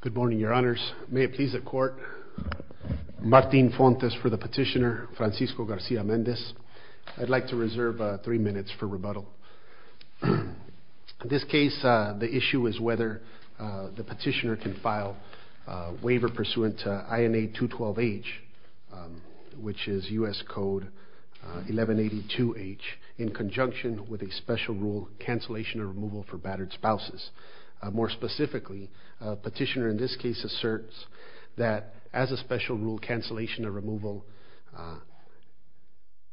Good morning, Your Honors. May it please the Court, Martin Fontes for the petitioner, Francisco Garcia-Mendez. I'd like to reserve three minutes for rebuttal. In this case, the issue is whether the petitioner can file a waiver pursuant to INA 212H, which is U.S. Code 1182H, in conjunction with a special rule cancellation of removal for battered spouses. More specifically, petitioner in this case asserts that as a special rule cancellation of removal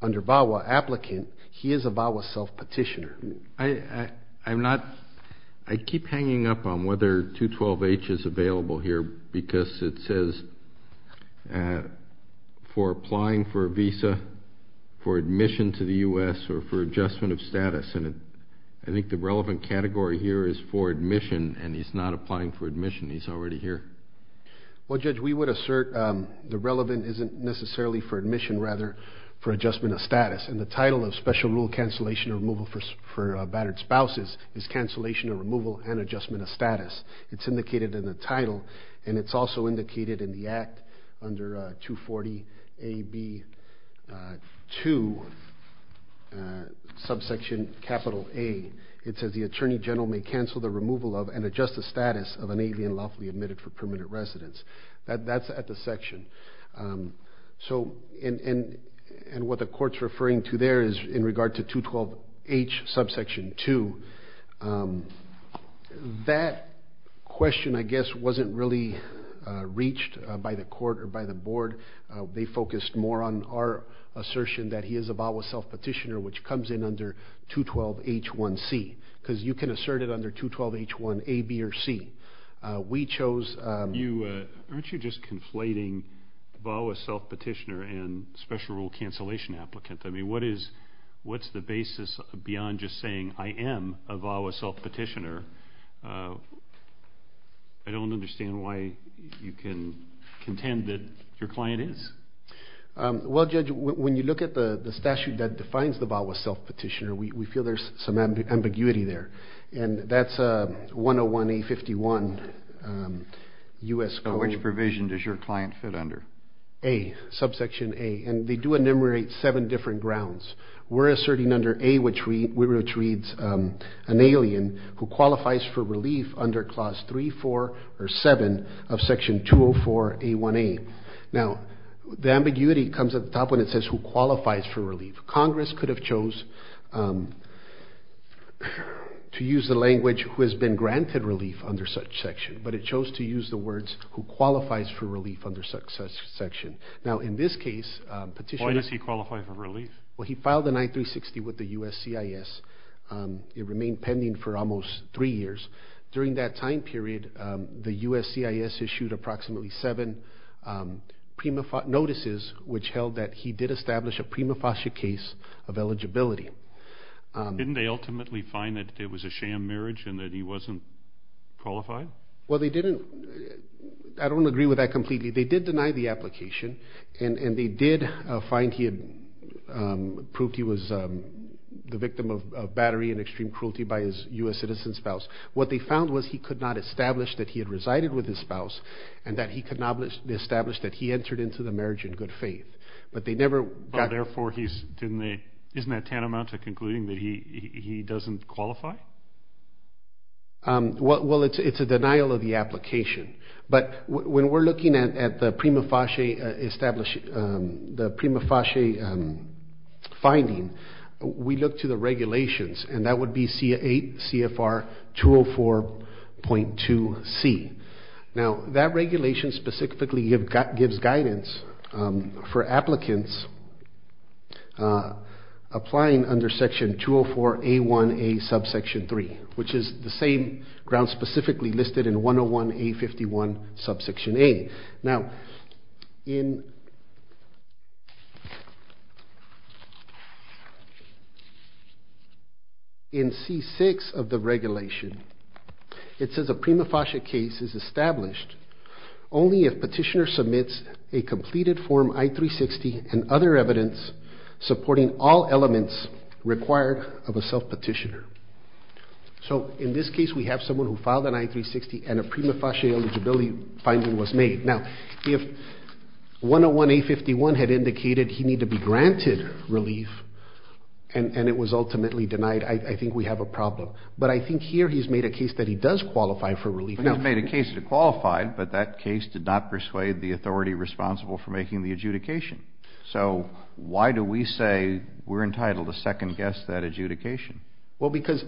under VAWA applicant, he is a VAWA self-petitioner. I'm not, I keep hanging up on whether 212H is available here because it says for applying for a visa for admission to the U.S. or for adjustment of status, and I think the relevant category here is for admission, and he's not applying for admission. He's already here. Well, Judge, we would assert the relevant isn't necessarily for admission, rather for adjustment of status, and the title of special rule cancellation of removal for battered spouses is cancellation of removal and adjustment of status. It's indicated in the title, and it's also indicated in the section 2, subsection capital A. It says the attorney general may cancel the removal of and adjust the status of an alien lawfully admitted for permanent residence. That's at the section. So, and what the court's referring to there is in regard to 212H subsection 2. That question, I guess, wasn't really reached by the court or by the board. They focused more on our assertion that he is a VAWA self-petitioner, which comes in under 212H1C, because you can assert it under 212H1A, B, or C. We chose... You, aren't you just conflating VAWA self-petitioner and special rule cancellation applicant? I mean, what is, what's the basis beyond just saying I am a VAWA self-petitioner? I don't understand why you can contend that your client is. Well, Judge, when you look at the statute that defines the VAWA self-petitioner, we feel there's some ambiguity there. And that's a 101A51 U.S. code. So which provision does your client fit under? A, subsection A. And they do enumerate seven different grounds. We're asserting under A, which reads an alien who qualifies for relief under Clause 3, 4, or 7 of Section 204A1A. Now, the ambiguity comes at the top when it says who qualifies for relief. Congress could have chose to use the language who has been granted relief under such section, but it chose to use the words who qualifies for relief under such section. Now, in this case, petitioner... Why does he qualify for relief? Well, he filed an I-360 with the U.S. CIS. It remained pending for almost three years. During that time period, the U.S. CIS issued approximately seven notices which held that he did establish a prima facie case of eligibility. Didn't they ultimately find that it was a sham marriage and that he wasn't qualified? Well, they didn't. I don't agree with that completely. They did deny the application, and they did find he had been a victim of battery and extreme cruelty by his U.S. citizen spouse. What they found was he could not establish that he had resided with his spouse and that he could not be established that he entered into the marriage in good faith. But they never... Therefore, isn't that tantamount to concluding that he doesn't qualify? Well, it's a denial of the application, but when we're looking at the prima facie finding, we look to the regulations, and that would be CFR 204.2C. Now, that regulation specifically gives guidance for applicants applying under section 204A1A subsection 3, which is the same ground specifically listed in 101A51 subsection A. Now, in C6 of the regulation, it says a prima facie case is established only if petitioner submits a completed form I-360 and other evidence supporting all cases. In this case, we have someone who filed an I-360 and a prima facie eligibility finding was made. Now, if 101A51 had indicated he need to be granted relief and it was ultimately denied, I think we have a problem. But I think here he's made a case that he does qualify for relief. He's made a case to qualify, but that case did not persuade the authority responsible for making the adjudication. So why do we say we're entitled to second-guess that adjudication? Well, because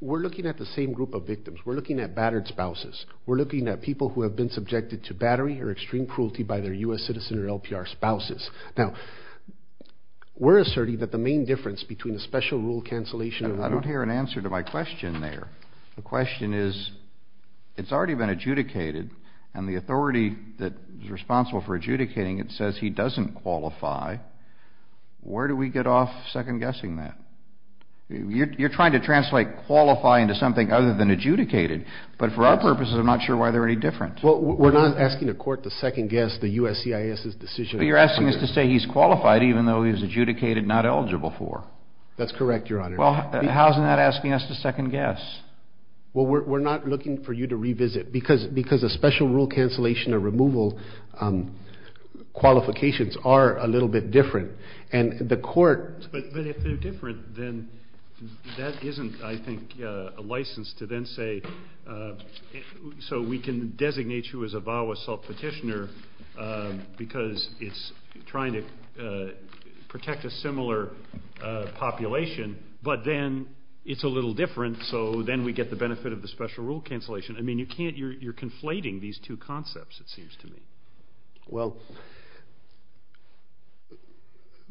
we're looking at the same group of victims. We're looking at battered spouses. We're looking at people who have been subjected to battery or extreme cruelty by their U.S. citizen or LPR spouses. Now, we're asserting that the main difference between a special rule cancellation... I don't hear an answer to my question there. The question is, it's already been adjudicated, and the authority that is responsible for adjudicating it says he doesn't qualify. Where do we get off second-guessing that? You're trying to translate qualify into something other than adjudicated, but for our purposes, I'm not sure why they're any different. Well, we're not asking the court to second-guess the USCIS's decision. But you're asking us to say he's qualified even though he was adjudicated not eligible for. That's correct, Your Honor. Well, how isn't that asking us to second-guess? Well, we're not looking for you to revisit because a special rule cancellation or removal qualifications are a little bit different. But if they're different, then that isn't, I think, a license to then say, so we can designate you as a VAWA self-petitioner because it's trying to protect a similar population, but then it's a little different, so then we get the benefit of the special rule cancellation. I mean, you're conflating these two concepts, it seems to me. Well,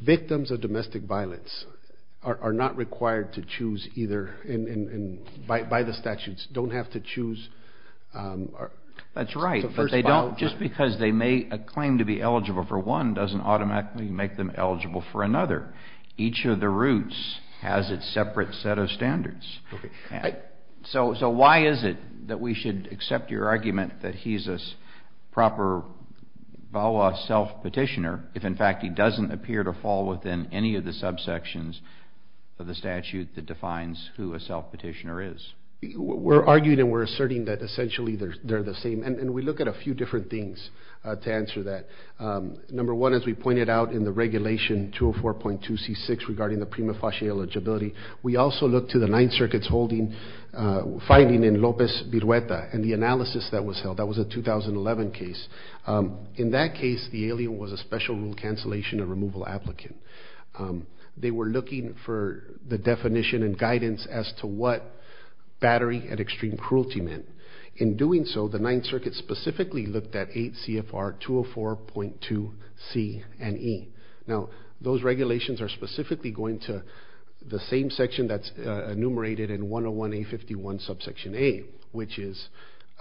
victims of domestic violence are not required to choose either, and by the statutes, don't have to choose. That's right, but just because they make a claim to be eligible for one doesn't automatically make them eligible for another. Each of the routes has its separate set of standards. So why is it that we should accept your argument that he's a proper VAWA self-petitioner if, in fact, he doesn't appear to fall within any of the subsections of the statute that defines who a self-petitioner is? We're arguing and we're asserting that essentially they're the same, and we look at a few different things to answer that. Number one, as we pointed out in the regulation 204.2c6 regarding the prima facie eligibility, we also look to the Ninth Circuit's holding, finding in the analysis that was held. That was a 2011 case. In that case, the alien was a special rule cancellation and removal applicant. They were looking for the definition and guidance as to what battery and extreme cruelty meant. In doing so, the Ninth Circuit specifically looked at 8 CFR 204.2c and e. Now, those regulations are specifically going to the same section that's under 201A51 subsection A, which is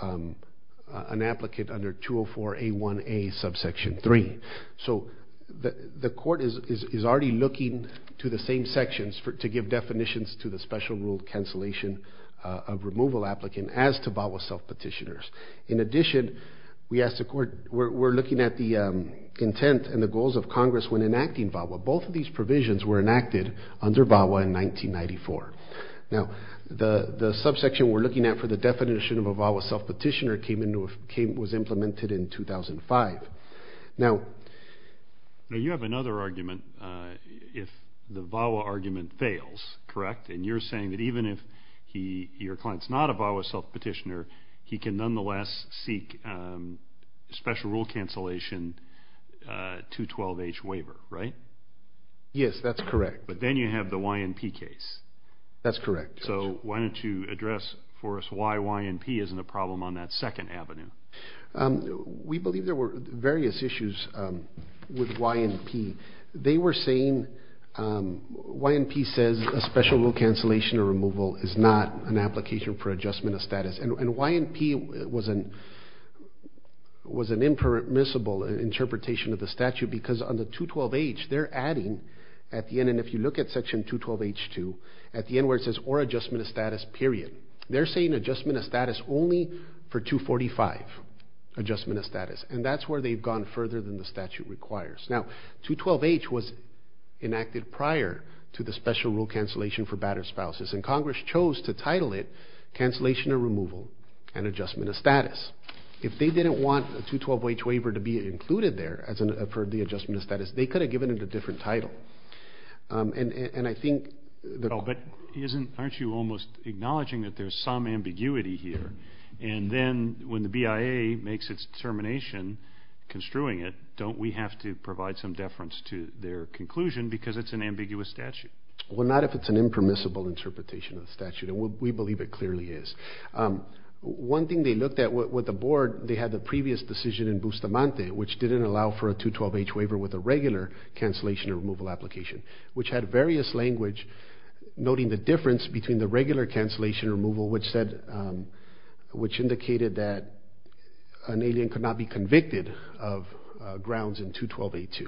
an applicant under 204A1A subsection 3. So the court is already looking to the same sections to give definitions to the special rule cancellation of removal applicant as to VAWA self- petitioners. In addition, we asked the court, we're looking at the intent and the goals of Congress when enacting VAWA. Both of these provisions were enacted under VAWA in 1994. Now, the subsection we're looking at for the definition of a VAWA self-petitioner was implemented in 2005. Now, you have another argument if the VAWA argument fails, correct? And you're saying that even if your client's not a VAWA self-petitioner, he can nonetheless seek special rule cancellation 212H waiver, right? Yes, that's correct. But then you have the YNP case. That's correct. So why don't you address for us why YNP isn't a problem on that second avenue? We believe there were various issues with YNP. They were saying YNP says a special rule cancellation or removal is not an impermissible interpretation of the statute because on the 212H, they're adding at the end, and if you look at section 212H2, at the end where it says or adjustment of status period, they're saying adjustment of status only for 245 adjustment of status. And that's where they've gone further than the statute requires. Now, 212H was enacted prior to the special rule cancellation for battered spouses, and Congress chose to title it cancellation or removal and adjustment of status. They didn't want a 212H waiver to be included there for the adjustment of status. They could have given it a different title. And I think... But aren't you almost acknowledging that there's some ambiguity here? And then when the BIA makes its determination construing it, don't we have to provide some deference to their conclusion because it's an ambiguous statute? Well, not if it's an impermissible interpretation of the statute, and we believe it clearly is. One thing they looked at with the board, they had the previous decision in Bustamante, which didn't allow for a 212H waiver with a regular cancellation removal application, which had various language noting the difference between the regular cancellation removal, which said... which indicated that an alien could not be convicted of grounds in 212A2,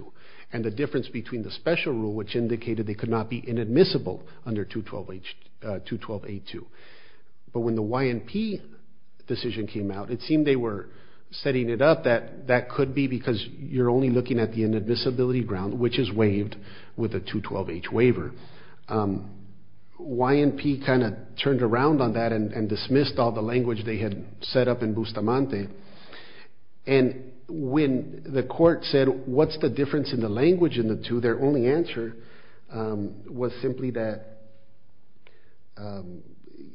and the difference between the special rule, which indicated they could not be convicted. But when the YNP decision came out, it seemed they were setting it up that that could be because you're only looking at the inadmissibility ground, which is waived with a 212H waiver. YNP kind of turned around on that and dismissed all the language they had set up in Bustamante. And when the court said, what's the difference in the language in the two, their only answer was simply that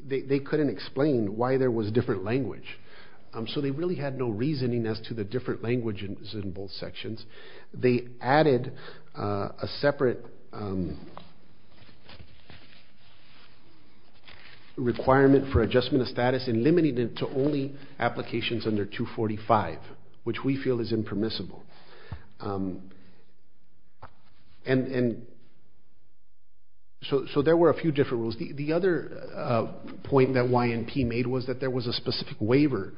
they couldn't explain why there was different language. So they really had no reasoning as to the different language in both sections. They added a separate requirement for adjustment of status and limited it to only applications under 245, which we feel is impermissible. And so there were a few different rules. The other point that YNP made was that there was a specific waiver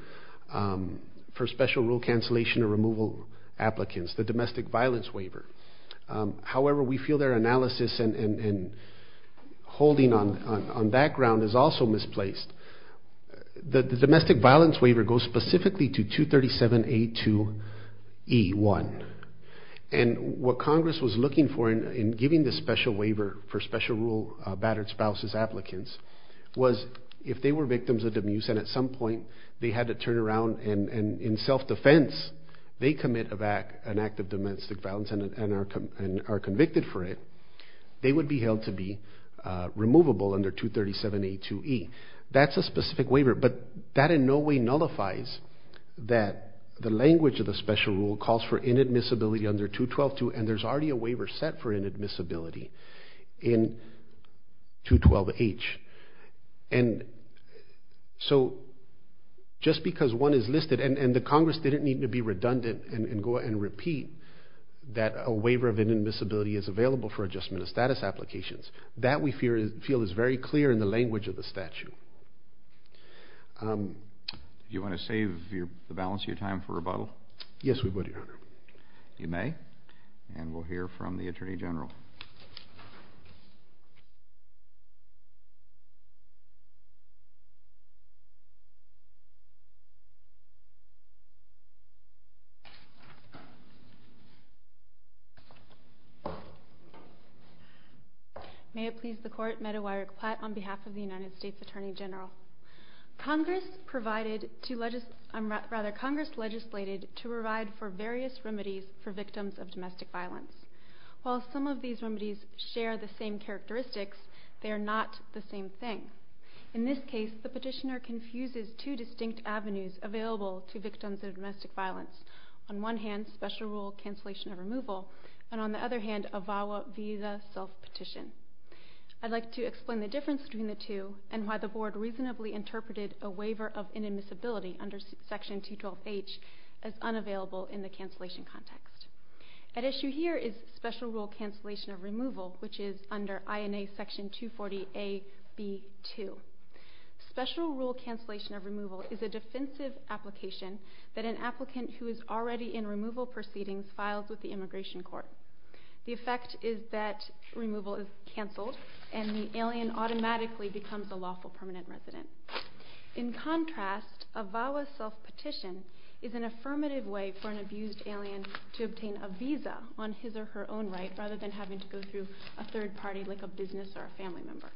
for special rule cancellation or removal applicants, the domestic violence waiver. However, we feel their analysis and holding on that ground is also misplaced. The domestic violence waiver goes specifically to 237A2E1. And what Congress was looking for in giving the special waiver for special rule battered spouses applicants was if they were victims of dimuse and at some point they had to turn around and in self-defense, they commit an act of domestic violence and are convicted for it, they would be held to be removable under 237A2E. That's a specific waiver, but that in no way nullifies that the language of the special rule calls for inadmissibility under 212-2 and there's already a waiver set for inadmissibility in 212-H. And so just because one is listed and the Congress didn't need to be redundant and go and repeat that a waiver of inadmissibility is available for adjustment of status applications, that we feel is very clear in the Do you want to save the balance of your time for rebuttal? Yes, we would, Your Honor. You may, and we'll hear from the Attorney General. May it please the court, Meadow Irick Platt on behalf of the United States Attorney General. Congress provided to, I'm rather Congress legislated to provide for various remedies for victims of domestic violence. While some of these remedies share the same characteristics, they are not the same thing. In this case, the petitioner confuses two distinct avenues available to victims of domestic violence. On one hand, special rule cancellation of removal and on the other hand, a VAWA visa self-petition. I'd like to explain the difference between the two and why the board reasonably interpreted a waiver of inadmissibility under section 212-H as unavailable in the cancellation context. At issue here is special rule cancellation of removal, which is under INA section 240-AB2. Special rule cancellation of removal is a defensive application that an applicant who is already in removal proceedings files with the immigration court. The alien automatically becomes a lawful permanent resident. In contrast, a VAWA self-petition is an affirmative way for an abused alien to obtain a visa on his or her own right rather than having to go through a third party like a business or a family member.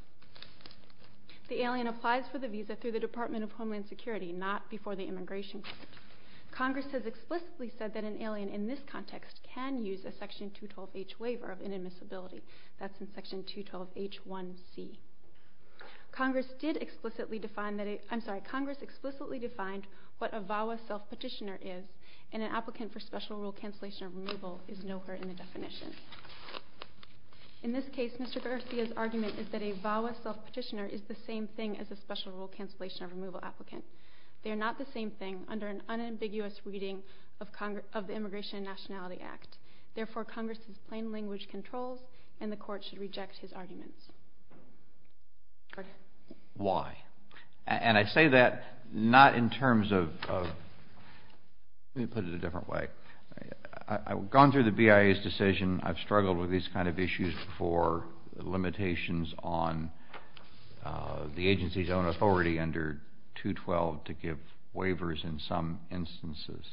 The alien applies for the visa through the Department of Homeland Security, not before the immigration court. Congress has explicitly said that an alien in this context can use a section 212-H waiver of inadmissibility. That's in section 212-H1C. Congress explicitly defined what a VAWA self-petitioner is and an applicant for special rule cancellation of removal is no hurt in the definition. In this case, Mr. Garcia's argument is that a VAWA self-petitioner is the same thing as a special rule cancellation of removal applicant. They are not the same thing under an unambiguous reading of the Immigration and Nationality Act. Therefore, Congress has plain language controls and the court should reject his arguments. Why? And I say that not in terms of, let me put it a different way. I've gone through the BIA's decision. I've struggled with these kind of issues before, limitations on the agency's own authority under 212 to give waivers in some instances.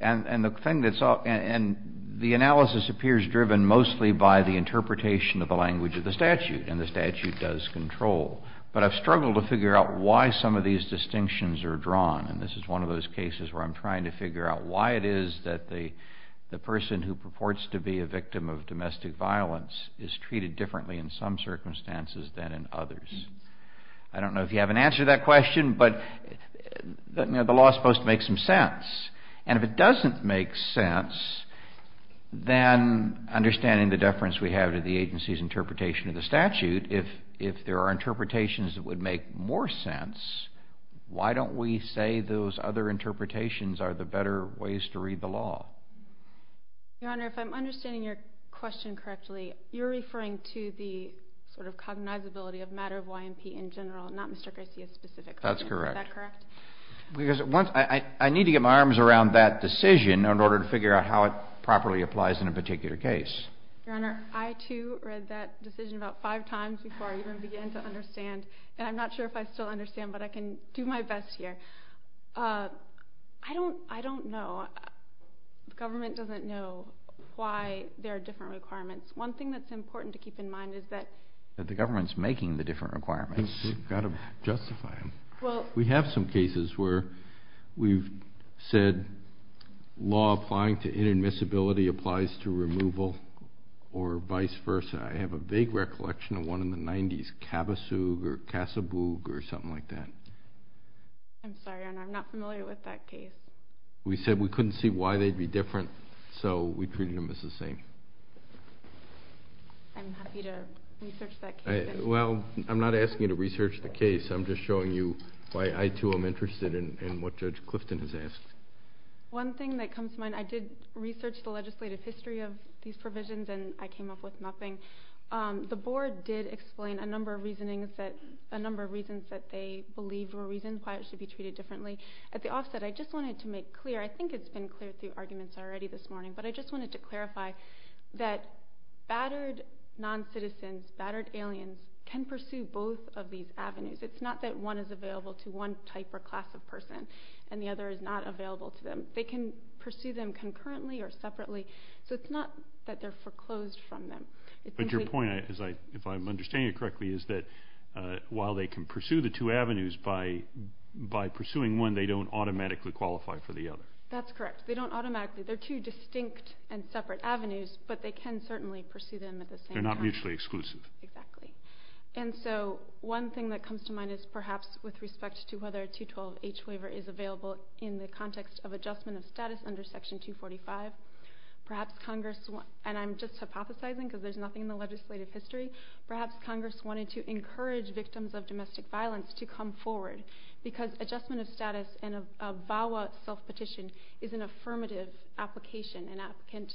And the thing that's up and the analysis appears driven mostly by the interpretation of the language of the statute and the statute does control. But I've struggled to figure out why some of these distinctions are drawn. And this is one of those cases where I'm trying to figure out why it is that the person who purports to be a victim of domestic violence is treated differently in some circumstances than in others. I don't know if you have an answer to that sense. Then understanding the deference we have to the agency's interpretation of the statute, if there are interpretations that would make more sense, why don't we say those other interpretations are the better ways to read the law? Your Honor, if I'm understanding your question correctly, you're referring to the sort of cognizability of matter of YMP in general, not Mr. Garcia's specific opinion. That's correct. Is that correct? I need to get my arms around that decision in order to figure out how it properly applies in a particular case. Your Honor, I, too, read that decision about five times before I even began to understand. And I'm not sure if I still understand, but I can do my best here. I don't know. The government doesn't know why there are different requirements. One thing that's important to keep in mind is that... That the government's making the different requirements. You've got to justify them. We have some cases where we've said law applying to inadmissibility applies to removal or vice versa. I have a vague recollection of one in the 90s, Cabasug or Casabougue or something like that. I'm sorry, Your Honor. I'm not familiar with that case. We said we couldn't see why they'd be different, so we treated them as the same. I'm happy to research that case. Well, I'm not asking you to research the case. I'm just showing you why I, too, am interested in what Judge Clifton has asked. One thing that comes to mind, I did research the legislative history of these provisions and I came up with nothing. The board did explain a number of reasons that they believed were reasons why it should be treated differently. At the offset, I just wanted to make clear, I think it's been clear through arguments already this morning, but I just wanted to both of these avenues. It's not that one is available to one type or class of person and the other is not available to them. They can pursue them concurrently or separately, so it's not that they're foreclosed from them. But your point, if I'm understanding it correctly, is that while they can pursue the two avenues by pursuing one, they don't automatically qualify for the other. That's correct. They don't automatically. They're two distinct and separate avenues, but they can certainly pursue them at the same time. They're not mutually exclusive. Exactly. One thing that comes to mind is perhaps with respect to whether a 212H waiver is available in the context of adjustment of status under Section 245. Perhaps Congress, and I'm just hypothesizing because there's nothing in the legislative history, perhaps Congress wanted to encourage victims of domestic violence to come forward because adjustment of status and a VAWA self-petition is an affirmative application. An applicant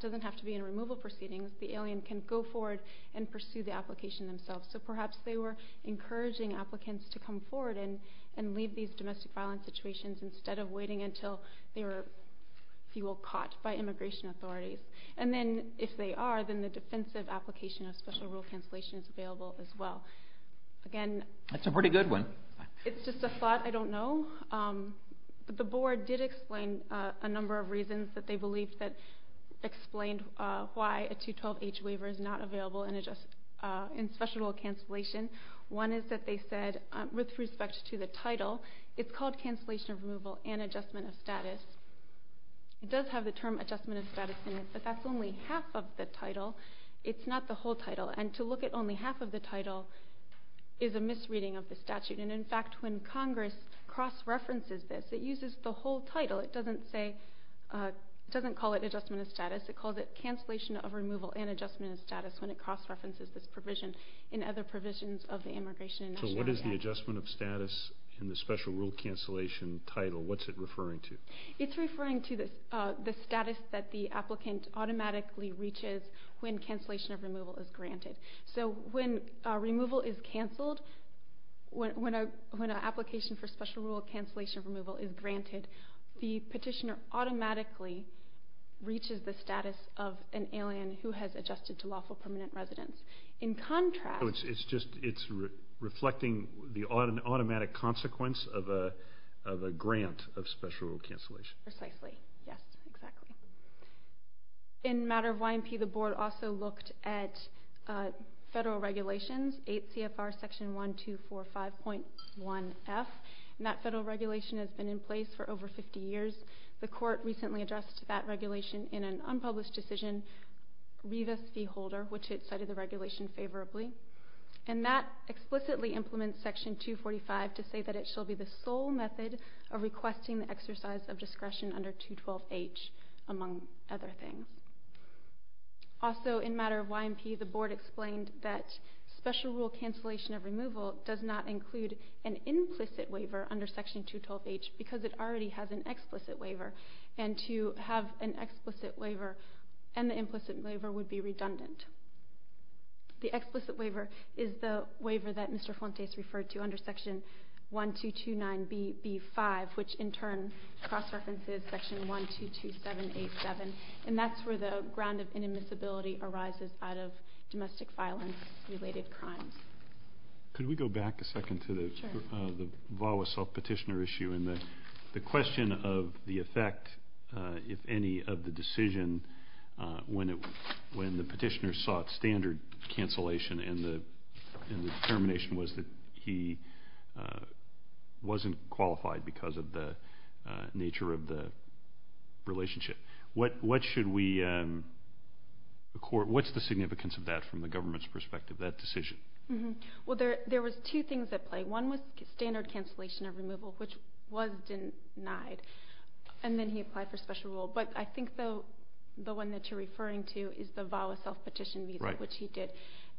doesn't have to be in a removal proceedings. The alien can go forward and pursue the application themselves. So perhaps they were encouraging applicants to come forward and leave these domestic violence situations instead of waiting until they were, if you will, caught by immigration authorities. And then if they are, then the defensive application of special rule cancellation is available as well. Again... That's a pretty good one. It's just a thought. I don't know. The board did explain a number of reasons that they why a 212H waiver is not available in special rule cancellation. One is that they said, with respect to the title, it's called cancellation of removal and adjustment of status. It does have the term adjustment of status in it, but that's only half of the title. It's not the whole title. And to look at only half of the title is a misreading of the statute. And in fact, when Congress cross-references this, it uses the whole title. It doesn't call it adjustment of status. It calls it cancellation of removal and adjustment of status when it cross-references this provision in other provisions of the Immigration and Nationality Act. So what is the adjustment of status in the special rule cancellation title? What's it referring to? It's referring to the status that the applicant automatically reaches when cancellation of removal is granted. So when removal is canceled, when an application for special rule cancellation of removal is granted, the petitioner automatically reaches the status of an alien who has adjusted to lawful permanent residence. In contrast... It's just reflecting the automatic consequence of a grant of special rule cancellation. Precisely. Yes, exactly. In matter of YMP, the board also looked at federal regulations, 8 CFR section 1245.1F. And that federal regulation has been in place for over 50 years. The court recently addressed that regulation in an unpublished decision, Rivas v. Holder, which had cited the regulation favorably. And that explicitly implements section 245 to say that it shall be the sole method of requesting the exercise of discretion under 212H, among other things. Also, in matter of YMP, the board explained that special rule cancellation of removal does not include an implicit waiver under section 212H, because it already has an explicit waiver. And to have an explicit waiver and the implicit waiver would be redundant. The explicit waiver is the waiver that Mr. Fontes referred to under section 1229BB5, which in particular for the ground of inadmissibility arises out of domestic violence related crimes. Could we go back a second to the VAWA self-petitioner issue and the question of the effect, if any, of the decision when the petitioner sought standard cancellation and the determination was that he wasn't qualified because of the nature of the relationship. What should we do then? What's the significance of that from the government's perspective, that decision? There was two things at play. One was standard cancellation of removal, which was denied. And then he applied for special rule. But I think the one that you're referring to is the VAWA self-petition visa, which he did.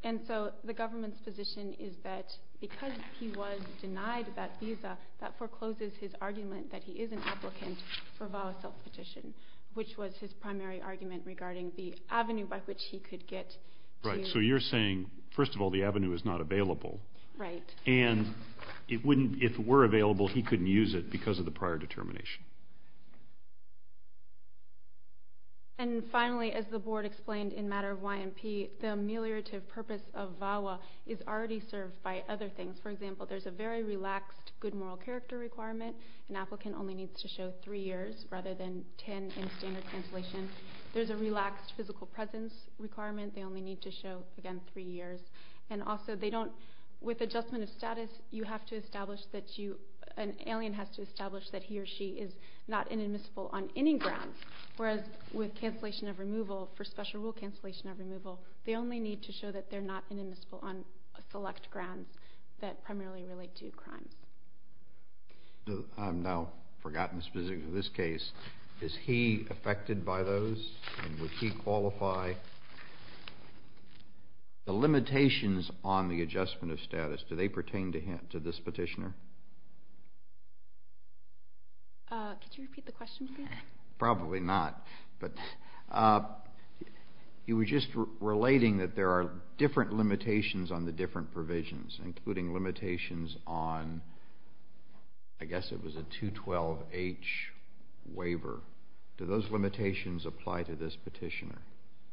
And so the government's position is that because he was denied that visa, that forecloses his argument that he is an applicant for VAWA self-petition, which was his primary argument regarding the avenue by which he could get to... Right. So you're saying, first of all, the avenue is not available. Right. And if it were available, he couldn't use it because of the prior determination. And finally, as the board explained in matter of YMP, the ameliorative purpose of VAWA is already served by other things. For example, there's a very relaxed good moral character requirement. An applicant only needs to show three years rather than 10 in standard cancellation. There's a relaxed physical presence requirement. They only need to show, again, three years. And also, with adjustment of status, an alien has to establish that he or she is not inadmissible on any grounds, whereas with special rule cancellation of removal, they only need to show that they're not inadmissible on select grounds that primarily relate to crimes. I've now forgotten the specifics of this case. Is he affected by those? And would he qualify? The limitations on the adjustment of status, do they pertain to him, to this petitioner? Could you repeat the question again? Probably not, but he was just relating that there are different limitations on the different provisions, including limitations on, I guess it was a 212H waiver. Do those limitations apply to this petitioner?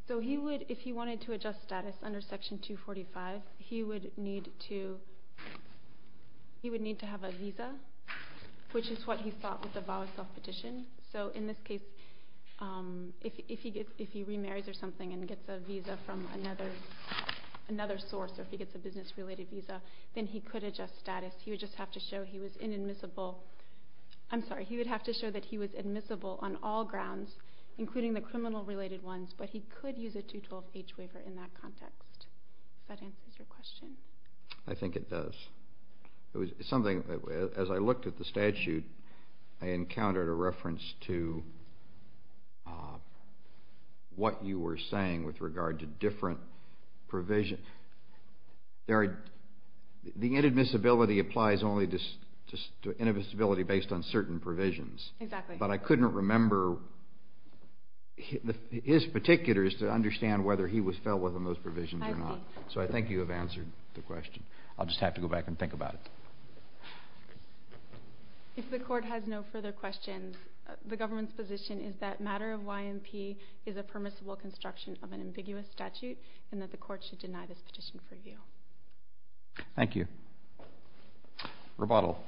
So he would, if he wanted to adjust status under Section 245, he would need to have a visa. In this case, if he remarries or something and gets a visa from another source, or if he gets a business-related visa, then he could adjust status. He would just have to show he was inadmissible. I'm sorry, he would have to show that he was admissible on all grounds, including the criminal-related ones, but he could use a 212H waiver in that context. Does that answer your question? I think it does. As I looked at the statute, I encountered a reference to what you were saying with regard to different provisions. The inadmissibility applies only to inadmissibility based on certain provisions, but I couldn't remember his particulars to understand whether he was felt within those provisions or not. So I think you have answered the question. I'll just have to go back and think about it. If the Court has no further questions, the government's position is that matter of YMP is a permissible construction of an ambiguous statute, and that the Court should deny this petition for review. Thank you. Rebuttal.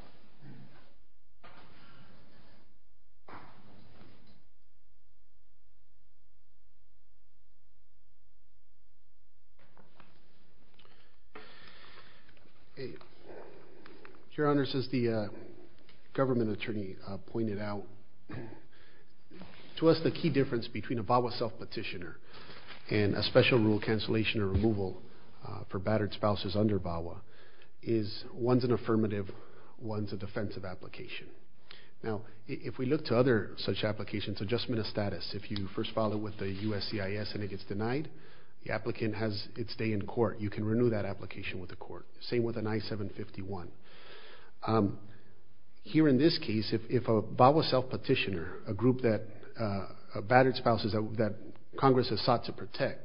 Your Honor, as the government attorney pointed out, to us the key difference between a VAWA self-petitioner and a special rule cancellation or removal for battered spouses under VAWA is one's an affirmative, one's a defensive application. Now, if we look to other such cases, the applicant has its day in court. You can renew that application with the Court. Same with an I-751. Here in this case, if a VAWA self-petitioner, a group of battered spouses that Congress has sought to protect,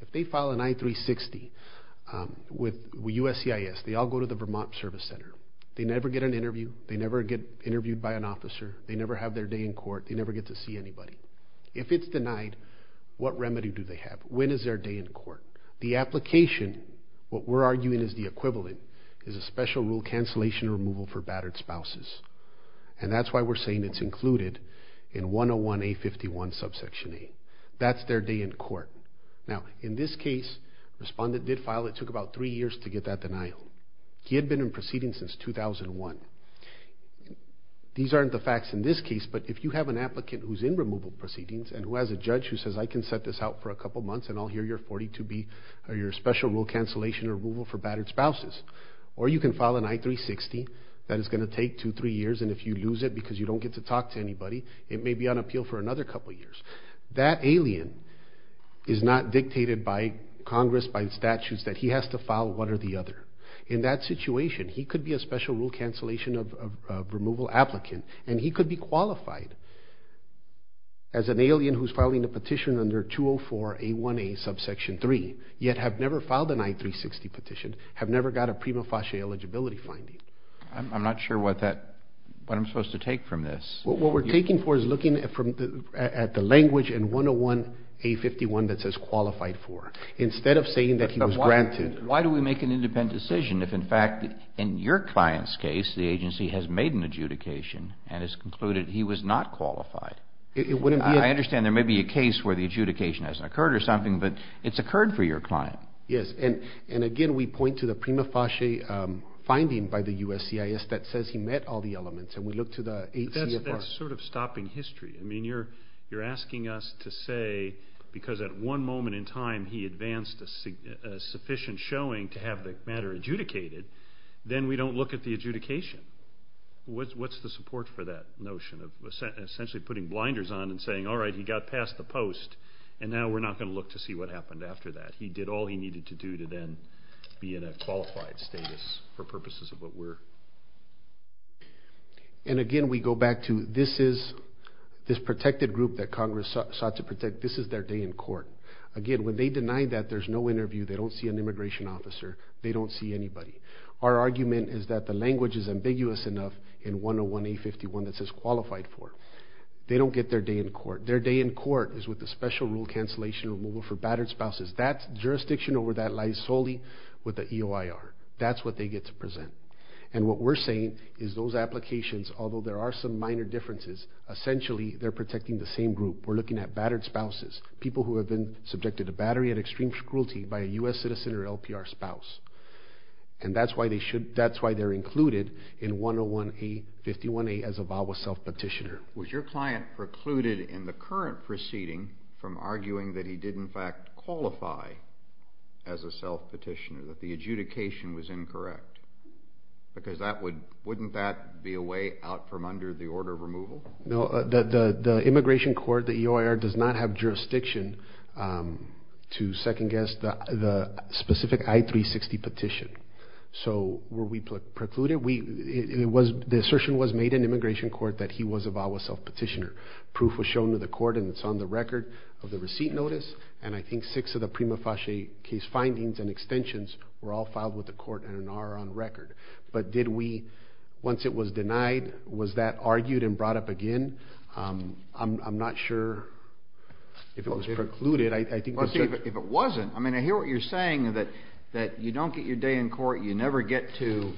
if they file an I-360 with USCIS, they all go to the Vermont Service Center. They never get an interview. They never get interviewed by an officer. They never have their day in court. They never get to see anybody. If it's their day in court, the application, what we're arguing is the equivalent, is a special rule cancellation or removal for battered spouses. And that's why we're saying it's included in 101A51 subsection A. That's their day in court. Now, in this case, the respondent did file. It took about three years to get that denial. He had been in proceedings since 2001. These aren't the facts in this case, but if you have an applicant who's in removal proceedings and who has a judge who says, I can set this out for a couple months and I'll hear your 42B or your special rule cancellation or removal for battered spouses. Or you can file an I-360 that is going to take two, three years, and if you lose it because you don't get to talk to anybody, it may be on appeal for another couple years. That alien is not dictated by Congress by statutes that he has to file one or the other. In that situation, he could be a special rule cancellation of removal applicant, and he for A1A subsection 3, yet have never filed an I-360 petition, have never got a prima facie eligibility finding. I'm not sure what I'm supposed to take from this. What we're taking for is looking at the language in 101A51 that says qualified for, instead of saying that he was granted. Why do we make an independent decision if, in fact, in your client's case, the agency has made an adjudication and has concluded he was not qualified? I understand there may be a case where the adjudication hasn't occurred or something, but it's occurred for your client. Yes, and again, we point to the prima facie finding by the USCIS that says he met all the elements, and we look to the ACFR. That's sort of stopping history. I mean, you're asking us to say, because at one moment in time, he advanced a sufficient showing to have the matter adjudicated, then we don't look at the adjudication. What's the support for that notion of essentially putting blinders on and saying, all right, he got past the post, and now we're not going to look to see what happened after that. He did all he needed to do to then be in a qualified status for purposes of what we're... And again, we go back to this is, this protected group that Congress sought to protect, this is their day in court. Again, when they deny that, there's no interview, they don't see an immigration officer, they don't see anybody. Our argument is that the language is ambiguous enough in 101A51 that says qualified for. They don't get their day in court. Their day in court is with the special rule cancellation removal for battered spouses. That's jurisdiction over that lies solely with the EOIR. That's what they get to present. And what we're saying is those applications, although there are some minor differences, essentially they're protecting the same group. We're looking at battered spouses, people who have been subjected to battery and extreme cruelty by a U.S. citizen or LPR spouse. And that's why they're included in 101A51A as a VAWA self-petitioner. Was your client precluded in the current proceeding from arguing that he did in fact qualify as a self-petitioner, that the adjudication was incorrect? Because that would... Wouldn't that be a way out from under the order of removal? No, the immigration court, the EOIR, does not have jurisdiction to second-guess the specific I-360 petition. So were we precluded? The assertion was made in immigration court that he was a VAWA self-petitioner. Proof was shown to the court and it's on the record of the receipt notice, and I think six of the prima facie case findings and extensions were all filed with the court and are on record. But did we, once it was denied, was that argued and brought up again? I'm not sure if it was precluded. I think... If it wasn't, I mean, I hear what you're saying that you don't get your day in court, you never get to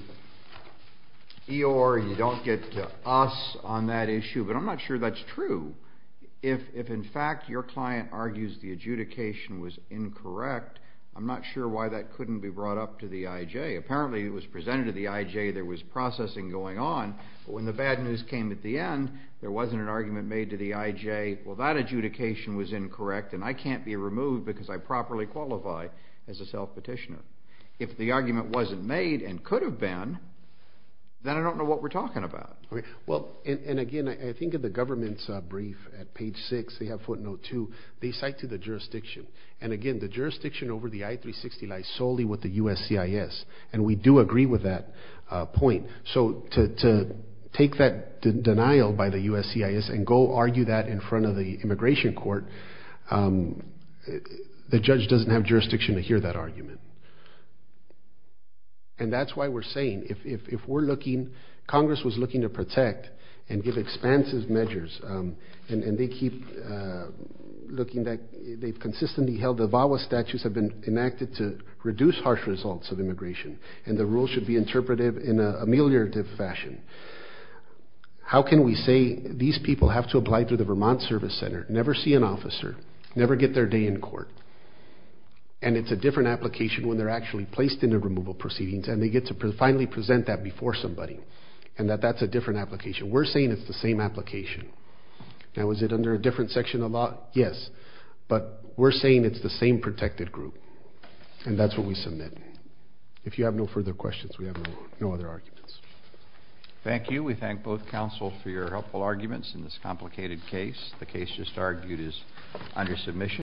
EOIR, you don't get to us on that issue, but I'm not sure that's true. If in fact your client argues the adjudication was incorrect, I'm not sure why that couldn't be brought up to the IJ. Apparently it was presented to the IJ, there was processing going on, but when the bad news came at the end, there wasn't an argument made to the IJ, well that adjudication was incorrect and I can't be removed because I properly qualify as a self-petitioner. If the argument wasn't made and could have been, then I don't know what we're talking about. Well, and again, I think of the government's brief at page six, they have footnote two, they cite to the jurisdiction. And again, the jurisdiction over the I-360 lies solely with the USCIS, and we do agree with that point. So to take that denial by the USCIS and go argue that in front of the immigration court, the judge doesn't have jurisdiction to hear that argument. And that's why we're saying if we're looking, Congress was looking to protect and give expansive measures, and they keep looking that they've consistently held the VAWA statutes have been enacted to reduce harsh results of immigration, and the rules should be interpretive in a ameliorative fashion. How can we say these people have to apply to the Vermont Service Center, never see an officer, never get their day in court, and it's a different application when they're actually placed in a removal proceedings and they get to finally present that before somebody, and that that's a different application. We're saying it's the same application. Now is it under a different section of law? Yes. But we're saying it's the same protected group, and that's what we submit. If you have no further questions, we have no other arguments. Thank you. We thank both counsel for your helpful arguments in this complicated case. The case just argued is under submission.